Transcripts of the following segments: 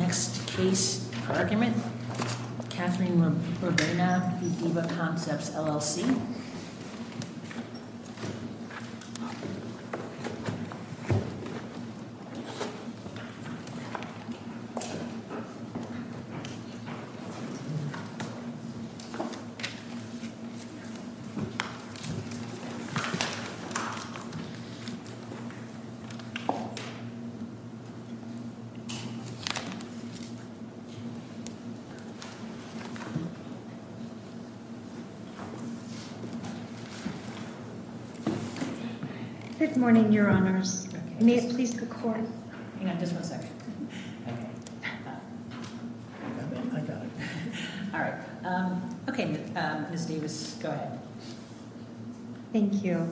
NEXT CASE ARGUMENT KATHRYN ROBERNA, DEVA CONCEPTS LLC Good morning, Your Honors. May I please look forward? Hang on just one second. Okay. All right. Okay, Ms. Davis, go ahead. Thank you.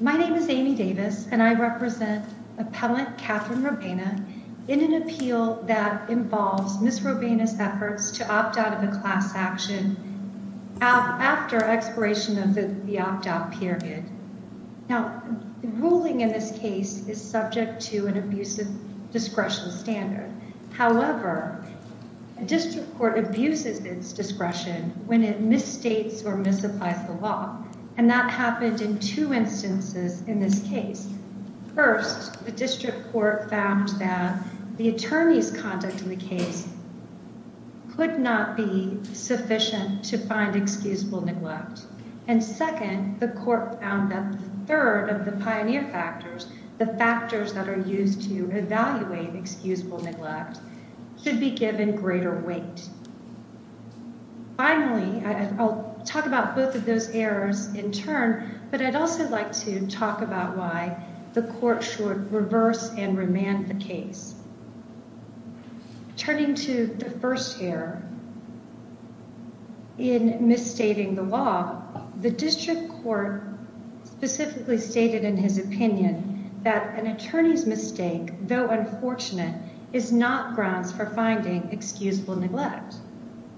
My name is Amy Davis, and I represent appellant Kathryn Roberna in an appeal that involves Ms. Roberna's efforts to opt out of a class action after expiration of the opt-out period. Now, the ruling in this case is subject to an abusive discretion standard. However, a district court abuses its discretion when it misstates or misapplies the law, and that happened in two instances in this case. First, the district court found that the attorney's conduct in the case could not be sufficient to find excusable neglect. And second, the court found that third of the pioneer factors, the factors that are used to evaluate excusable neglect, should be given greater weight. Finally, I'll talk about both of those errors in turn, but I'd also like to talk about why the court should reverse and remand the case. Turning to the first error in misstating the law, the district court specifically stated in his opinion that an attorney's mistake, though unfortunate, is not grounds for finding excusable neglect.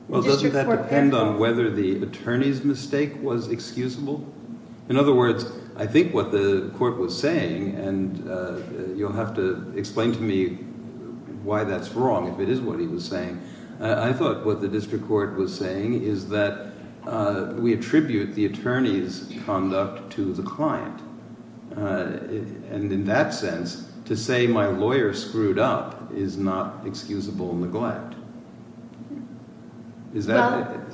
Well, doesn't that depend on whether the attorney's mistake was excusable? In other words, I think what the court was saying, and you'll have to explain to me why that's wrong if it is what he was saying, I thought what the district court was saying is that we attribute the attorney's conduct to the client. And in that sense, to say my lawyer screwed up is not excusable neglect. Is that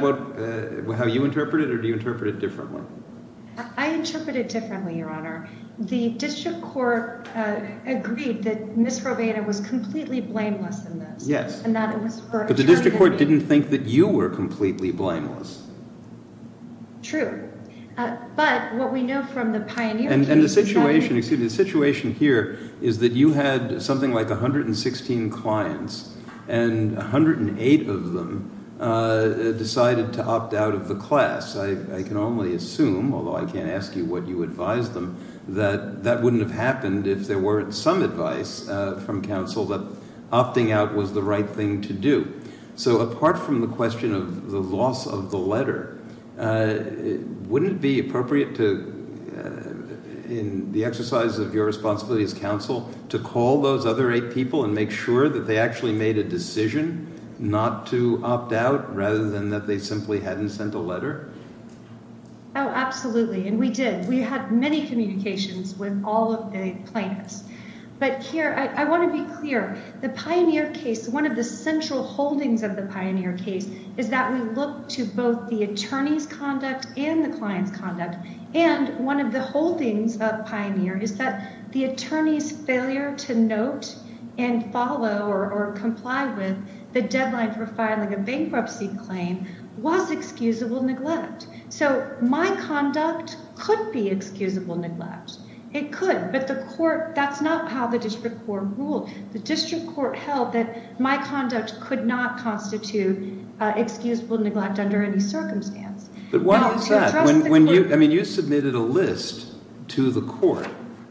how you interpret it, or do you interpret it differently? I interpret it differently, Your Honor. The district court agreed that Ms. Robaina was completely blameless in this. Yes, but the district court didn't think that you were completely blameless. True, but what we know from the pioneer case is that the- And the situation here is that you had something like 116 clients, and 108 of them decided to opt out of the class. I can only assume, although I can't ask you what you advised them, that that wouldn't have happened if there weren't some advice from counsel that opting out was the right thing to do. So apart from the question of the loss of the letter, wouldn't it be appropriate to, in the exercise of your responsibility as counsel, to call those other eight people and make sure that they actually made a decision not to opt out rather than that they simply hadn't sent a letter? Oh, absolutely, and we did. We had many communications with all of the plaintiffs. But here, I want to be clear. The pioneer case, one of the central holdings of the pioneer case is that we look to both the attorney's conduct and the client's conduct, and one of the holdings of pioneer is that the attorney's failure to note and follow or comply with the deadline for filing a bankruptcy claim was excusable neglect. So my conduct could be excusable neglect. It could, but that's not how the district court ruled. The district court held that my conduct could not constitute excusable neglect under any circumstance. But why was that? I mean, you submitted a list to the court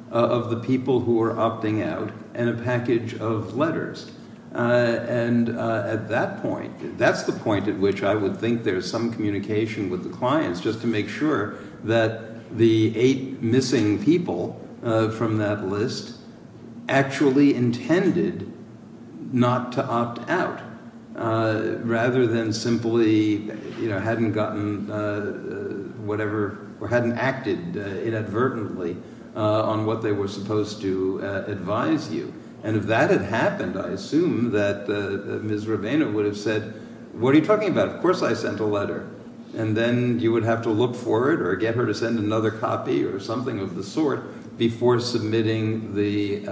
of the people who were opting out and a package of letters, and at that point, that's the point at which I would think there's some communication with the clients just to make sure that the eight missing people from that list actually intended not to opt out rather than simply hadn't gotten whatever or hadn't acted inadvertently on what they were supposed to advise you. And if that had happened, I assume that Ms. Ravena would have said, What are you talking about? Of course I sent a letter. And then you would have to look for it or get her to send another copy or something of the sort before submitting the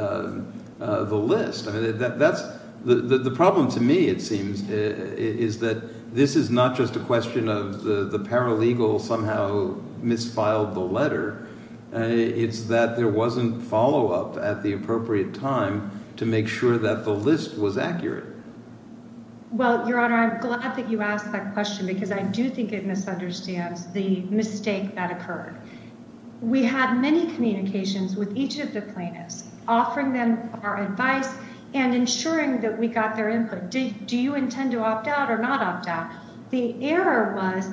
list. The problem to me, it seems, is that this is not just a question of the paralegal somehow misfiled the letter. It's that there wasn't follow-up at the appropriate time to make sure that the list was accurate. Well, Your Honor, I'm glad that you asked that question because I do think it misunderstands the mistake that occurred. We had many communications with each of the plaintiffs, offering them our advice and ensuring that we got their input. Do you intend to opt out or not opt out? The error was,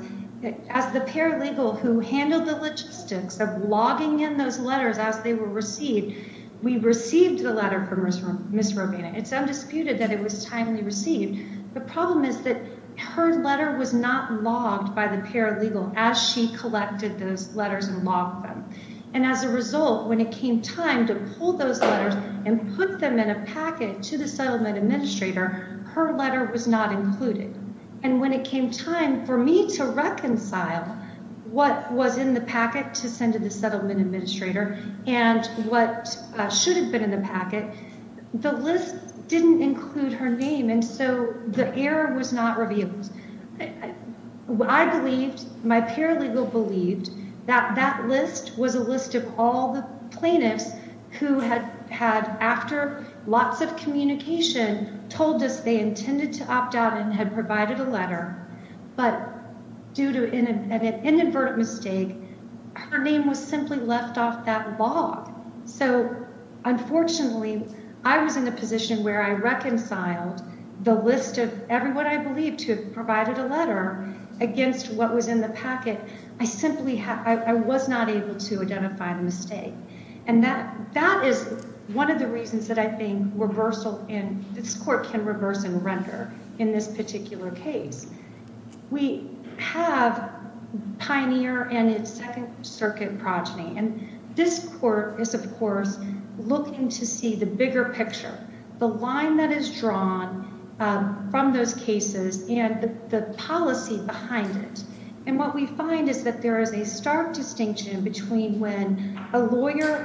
as the paralegal who handled the logistics of logging in those letters as they were received, we received the letter from Ms. Ravena. It's undisputed that it was timely received. The problem is that her letter was not logged by the paralegal as she collected those letters and logged them. And as a result, when it came time to pull those letters and put them in a packet to the settlement administrator, her letter was not included. And when it came time for me to reconcile what was in the packet to send to the settlement administrator and what should have been in the packet, the list didn't include her name. And so the error was not revealed. I believed, my paralegal believed, that that list was a list of all the plaintiffs who had, after lots of communication, told us they intended to opt out and had provided a letter, but due to an inadvertent mistake, her name was simply left off that log. So, unfortunately, I was in a position where I reconciled the list of everyone I believed to have provided a letter against what was in the packet. I simply was not able to identify the mistake. And that is one of the reasons that I think this court can reverse and render in this particular case. We have Pioneer and its Second Circuit progeny, and this court is, of course, looking to see the bigger picture, the line that is drawn from those cases and the policy behind it. And what we find is that there is a stark distinction between when a lawyer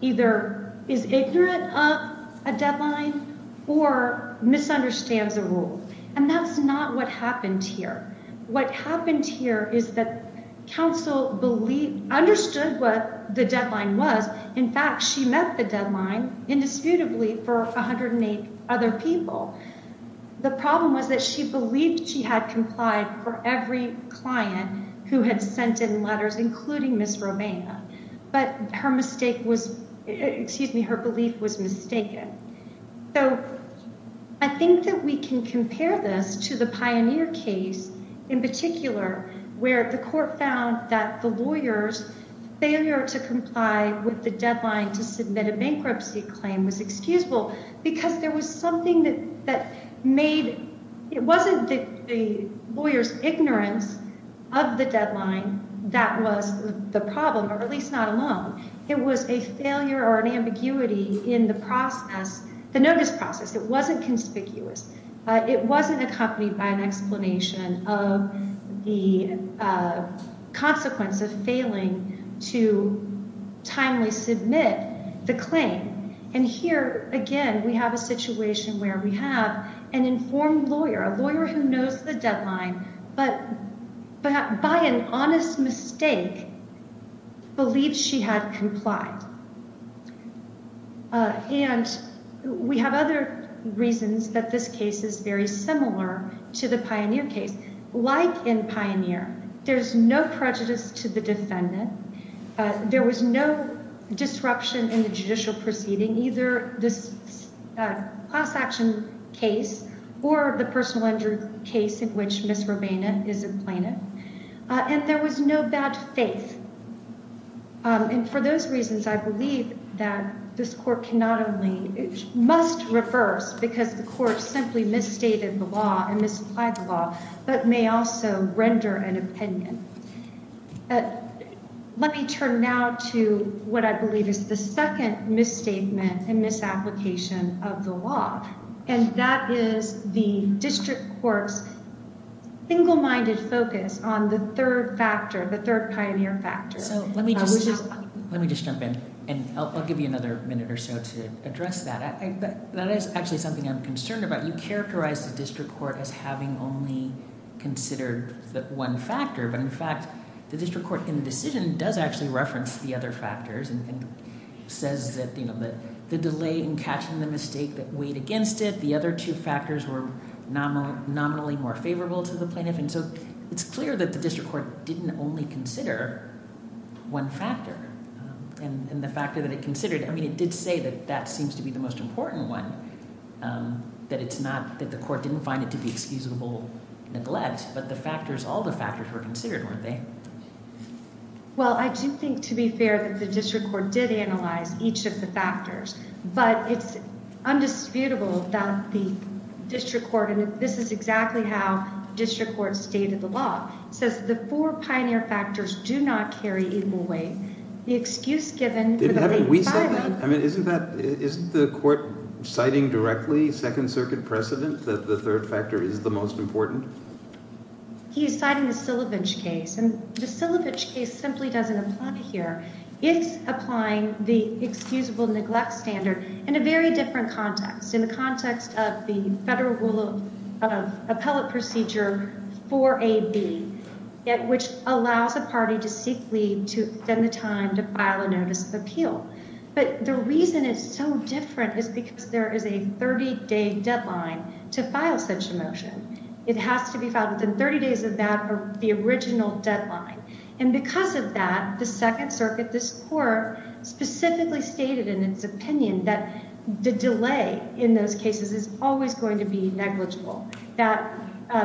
either is ignorant of a deadline or misunderstands a rule. And that's not what happened here. What happened here is that counsel understood what the deadline was. In fact, she met the deadline, indisputably, for 108 other people. The problem was that she believed she had complied for every client who had sent in letters, including Ms. Romina. But her belief was mistaken. So I think that we can compare this to the Pioneer case in particular, where the court found that the lawyer's failure to comply with the deadline to submit a bankruptcy claim was excusable because there was something that made— at least not alone—it was a failure or an ambiguity in the process, the notice process. It wasn't conspicuous. It wasn't accompanied by an explanation of the consequence of failing to timely submit the claim. And here, again, we have a situation where we have an informed lawyer, a lawyer who knows the deadline, but by an honest mistake believes she had complied. And we have other reasons that this case is very similar to the Pioneer case. Like in Pioneer, there's no prejudice to the defendant. There was no disruption in the judicial proceeding, either this class-action case or the personal injury case in which Ms. Romina is implanted. And there was no bad faith. And for those reasons, I believe that this court cannot only—must reverse because the court simply misstated the law and misapplied the law, but may also render an opinion. Let me turn now to what I believe is the second misstatement and misapplication of the law. And that is the district court's single-minded focus on the third factor, the third Pioneer factor. So let me just jump in, and I'll give you another minute or so to address that. That is actually something I'm concerned about. You characterize the district court as having only considered the one factor, but in fact the district court in the decision does actually reference the other factors and says that, you know, the delay in catching the mistake that weighed against it, the other two factors were nominally more favorable to the plaintiff. And so it's clear that the district court didn't only consider one factor. And the factor that it considered, I mean, it did say that that seems to be the most important one, that it's not—that the court didn't find it to be excusable neglect, but the factors—all the factors were considered, weren't they? Well, I do think, to be fair, that the district court did analyze each of the factors, but it's undisputable that the district court—and this is exactly how district courts stated the law— says the four Pioneer factors do not carry equal weight. The excuse given for the plaintiff's filing— Didn't we say that? I mean, isn't that—isn't the court citing directly Second Circuit precedent that the third factor is the most important? He's citing the Sillivich case, and the Sillivich case simply doesn't apply here. It's applying the excusable neglect standard in a very different context, in the context of the federal rule of appellate procedure 4AB, which allows a party to seek leave to—then the time to file a notice of appeal. But the reason it's so different is because there is a 30-day deadline to file such a motion. It has to be filed within 30 days of that or the original deadline. And because of that, the Second Circuit, this court, specifically stated in its opinion that the delay in those cases is always going to be negligible, that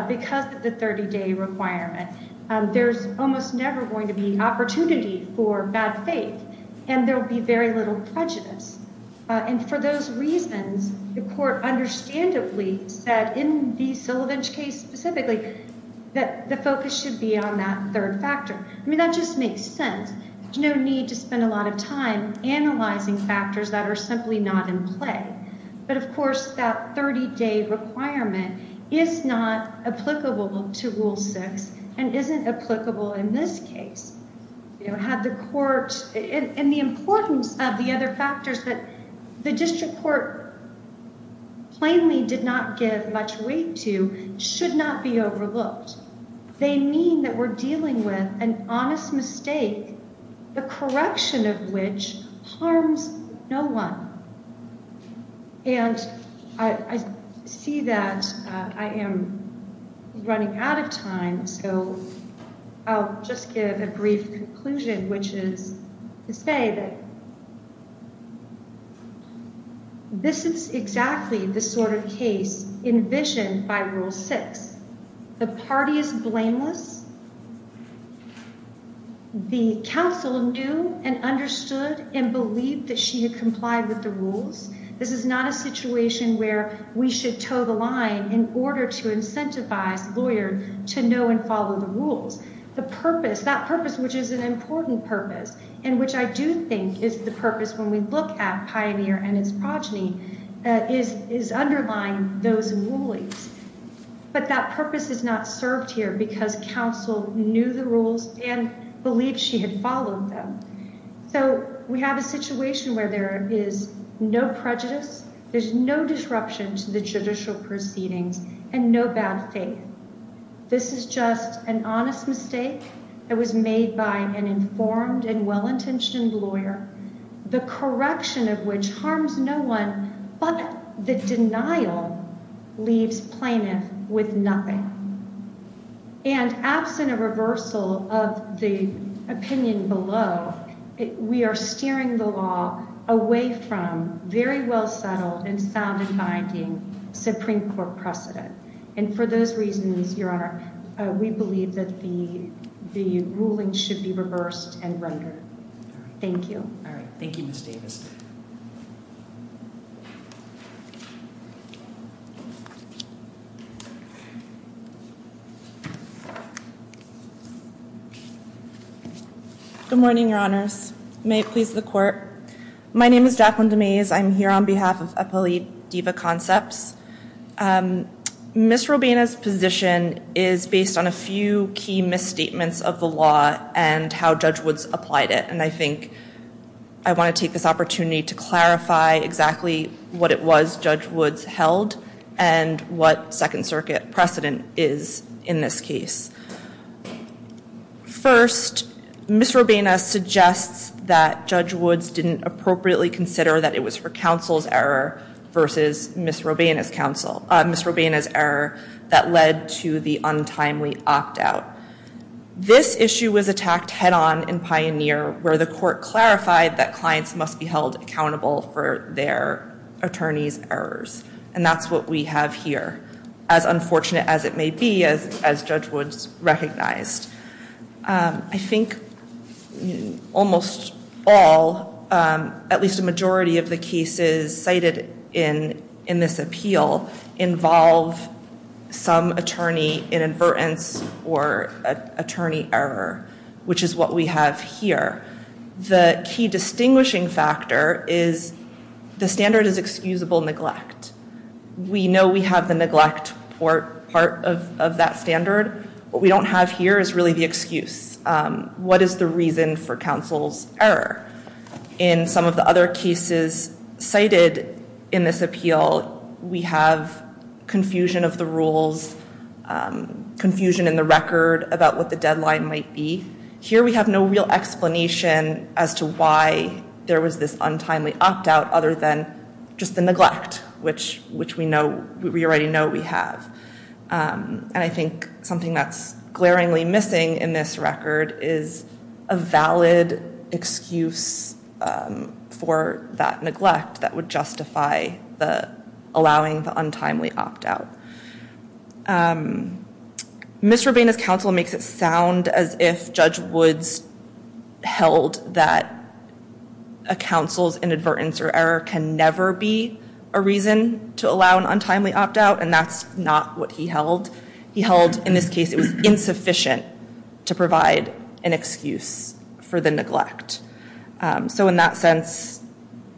because of the 30-day requirement, there's almost never going to be opportunity for bad faith, and there will be very little prejudice. And for those reasons, the court understandably said in the Sillivich case specifically that the focus should be on that third factor. I mean, that just makes sense. There's no need to spend a lot of time analyzing factors that are simply not in play. But, of course, that 30-day requirement is not applicable to Rule 6 and isn't applicable in this case. And the importance of the other factors that the district court plainly did not give much weight to should not be overlooked. They mean that we're dealing with an honest mistake, the correction of which harms no one. And I see that I am running out of time, so I'll just give a brief conclusion, which is to say that this is exactly the sort of case envisioned by Rule 6. The party is blameless. The counsel knew and understood and believed that she had complied with the rules. This is not a situation where we should toe the line in order to incentivize lawyers to know and follow the rules. The purpose, that purpose which is an important purpose, and which I do think is the purpose when we look at Pioneer and its progeny, is underlying those rulings. But that purpose is not served here because counsel knew the rules and believed she had followed them. So we have a situation where there is no prejudice, there's no disruption to the judicial proceedings, and no bad faith. This is just an honest mistake that was made by an informed and well-intentioned lawyer, the correction of which harms no one, but the denial leaves plaintiff with nothing. And absent a reversal of the opinion below, we are steering the law away from very well-settled and sound and binding Supreme Court precedent. And for those reasons, Your Honor, we believe that the ruling should be reversed and rendered. Thank you. All right, thank you, Ms. Davis. Good morning, Your Honors. May it please the Court. My name is Jacqueline DeMaze. I'm here on behalf of Appellee Diva Concepts. Ms. Robaina's position is based on a few key misstatements of the law and how Judge Woods applied it, and I think I want to take this opportunity to clarify exactly what it was Judge Woods held and what Second Circuit precedent is in this case. First, Ms. Robaina suggests that Judge Woods didn't appropriately consider that it was for counsel's error versus Ms. Robaina's error that led to the untimely opt-out. This issue was attacked head-on in Pioneer, where the court clarified that clients must be held accountable for their attorneys' errors, and that's what we have here, as unfortunate as it may be, as Judge Woods recognized. I think almost all, at least a majority of the cases cited in this appeal, involve some attorney inadvertence or attorney error, which is what we have here. The key distinguishing factor is the standard is excusable neglect. We know we have the neglect part of that standard. What we don't have here is really the excuse. What is the reason for counsel's error? In some of the other cases cited in this appeal, we have confusion of the rules, confusion in the record about what the deadline might be. Here we have no real explanation as to why there was this untimely opt-out, other than just the neglect, which we already know we have. I think something that's glaringly missing in this record is a valid excuse for that neglect that would justify allowing the untimely opt-out. Ms. Rubina's counsel makes it sound as if Judge Woods held that a counsel's inadvertence or error can never be a reason to allow an untimely opt-out, and that's not what he held. He held, in this case, it was insufficient to provide an excuse for the neglect. In that sense,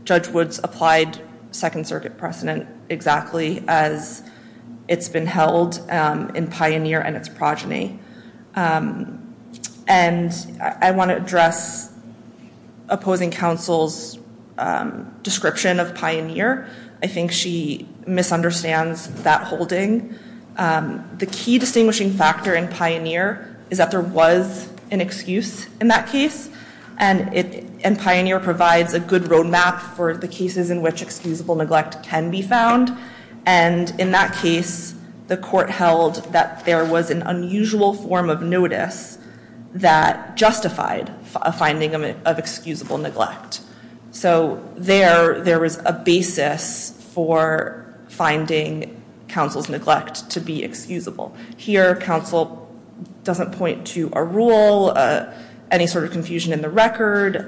Judge Woods applied Second Circuit precedent exactly as it's been held in Pioneer and its progeny. I want to address opposing counsel's description of Pioneer. I think she misunderstands that holding. The key distinguishing factor in Pioneer is that there was an excuse in that case, and Pioneer provides a good roadmap for the cases in which excusable neglect can be found. In that case, the court held that there was an unusual form of notice that justified a finding of excusable neglect. So there was a basis for finding counsel's neglect to be excusable. Here, counsel doesn't point to a rule, any sort of confusion in the record,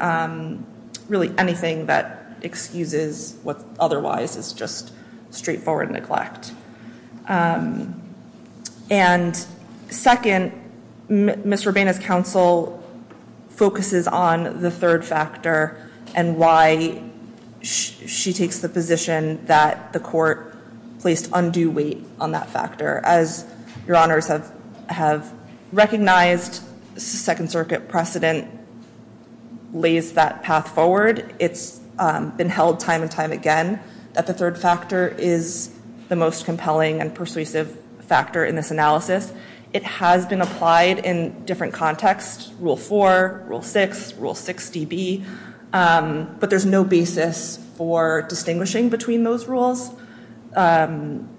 really anything that excuses what otherwise is just straightforward neglect. And second, Ms. Rubena's counsel focuses on the third factor and why she takes the position that the court placed undue weight on that factor. As Your Honors have recognized, Second Circuit precedent lays that path forward. It's been held time and time again that the third factor is the most compelling and persuasive factor in this analysis. It has been applied in different contexts, Rule 4, Rule 6, Rule 6db, but there's no basis for distinguishing between those rules. The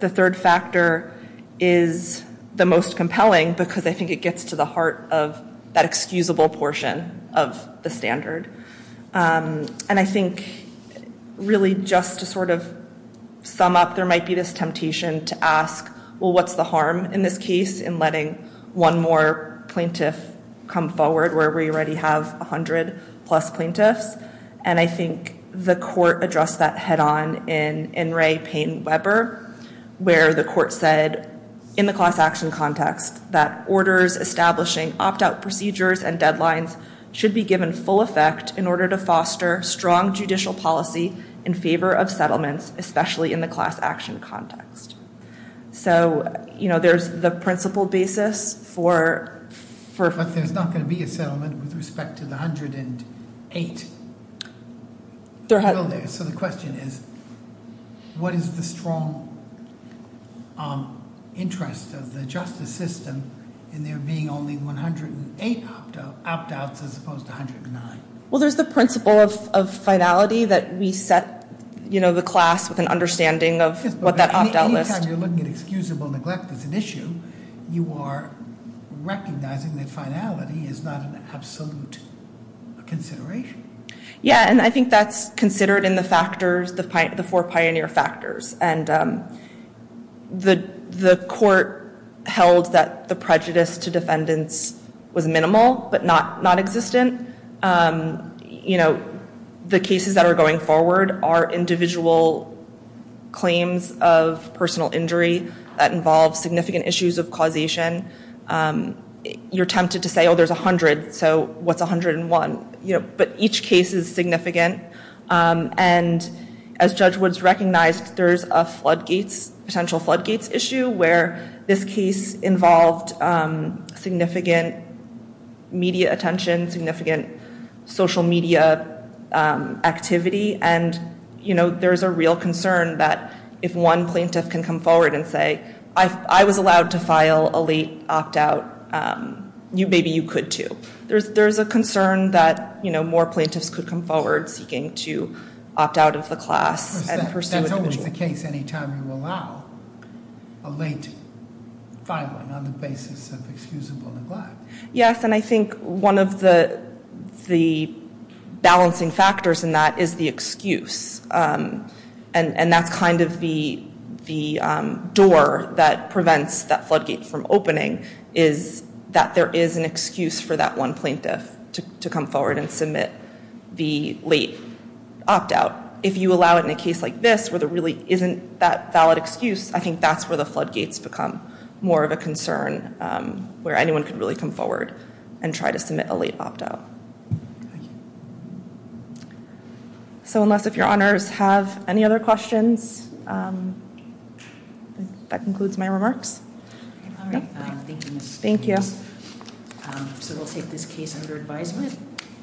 third factor is the most compelling because I think it gets to the heart of that excusable portion of the standard. And I think really just to sort of sum up, there might be this temptation to ask, well, what's the harm in this case in letting one more plaintiff come forward where we already have 100-plus plaintiffs? And I think the court addressed that head-on in Ray Payne-Weber, where the court said in the class action context that orders establishing opt-out procedures and deadlines should be given full effect in order to foster strong judicial policy in favor of settlements, especially in the class action context. So there's the principle basis for- But there's not going to be a settlement with respect to the 108. So the question is, what is the strong interest of the justice system in there being only 108 opt-outs as opposed to 109? Well, there's the principle of finality that we set the class with an understanding of what that opt-out list- Yes, but any time you're looking at excusable neglect as an issue, you are recognizing that finality is not an absolute consideration. Yeah, and I think that's considered in the factors, the four pioneer factors. And the court held that the prejudice to defendants was minimal but not existent. The cases that are going forward are individual claims of personal injury that involve significant issues of causation. You're tempted to say, oh, there's 100, so what's 101? But each case is significant. And as Judge Woods recognized, there's a potential floodgates issue where this case involved significant media attention, significant social media activity. And there's a real concern that if one plaintiff can come forward and say, I was allowed to file a late opt-out, maybe you could too. There's a concern that more plaintiffs could come forward seeking to opt out of the class and pursue an individual. That's always the case any time you allow a late filing on the basis of excusable neglect. Yes, and I think one of the balancing factors in that is the excuse. And that's kind of the door that prevents that floodgate from opening, is that there is an excuse for that one plaintiff to come forward and submit the late opt-out. If you allow it in a case like this where there really isn't that valid excuse, I think that's where the floodgates become more of a concern where anyone could really come forward and try to submit a late opt-out. Thank you. So unless if your Honours have any other questions, that concludes my remarks. All right, thank you, Ms. Stiles. Thank you. So we'll take this case under advisement.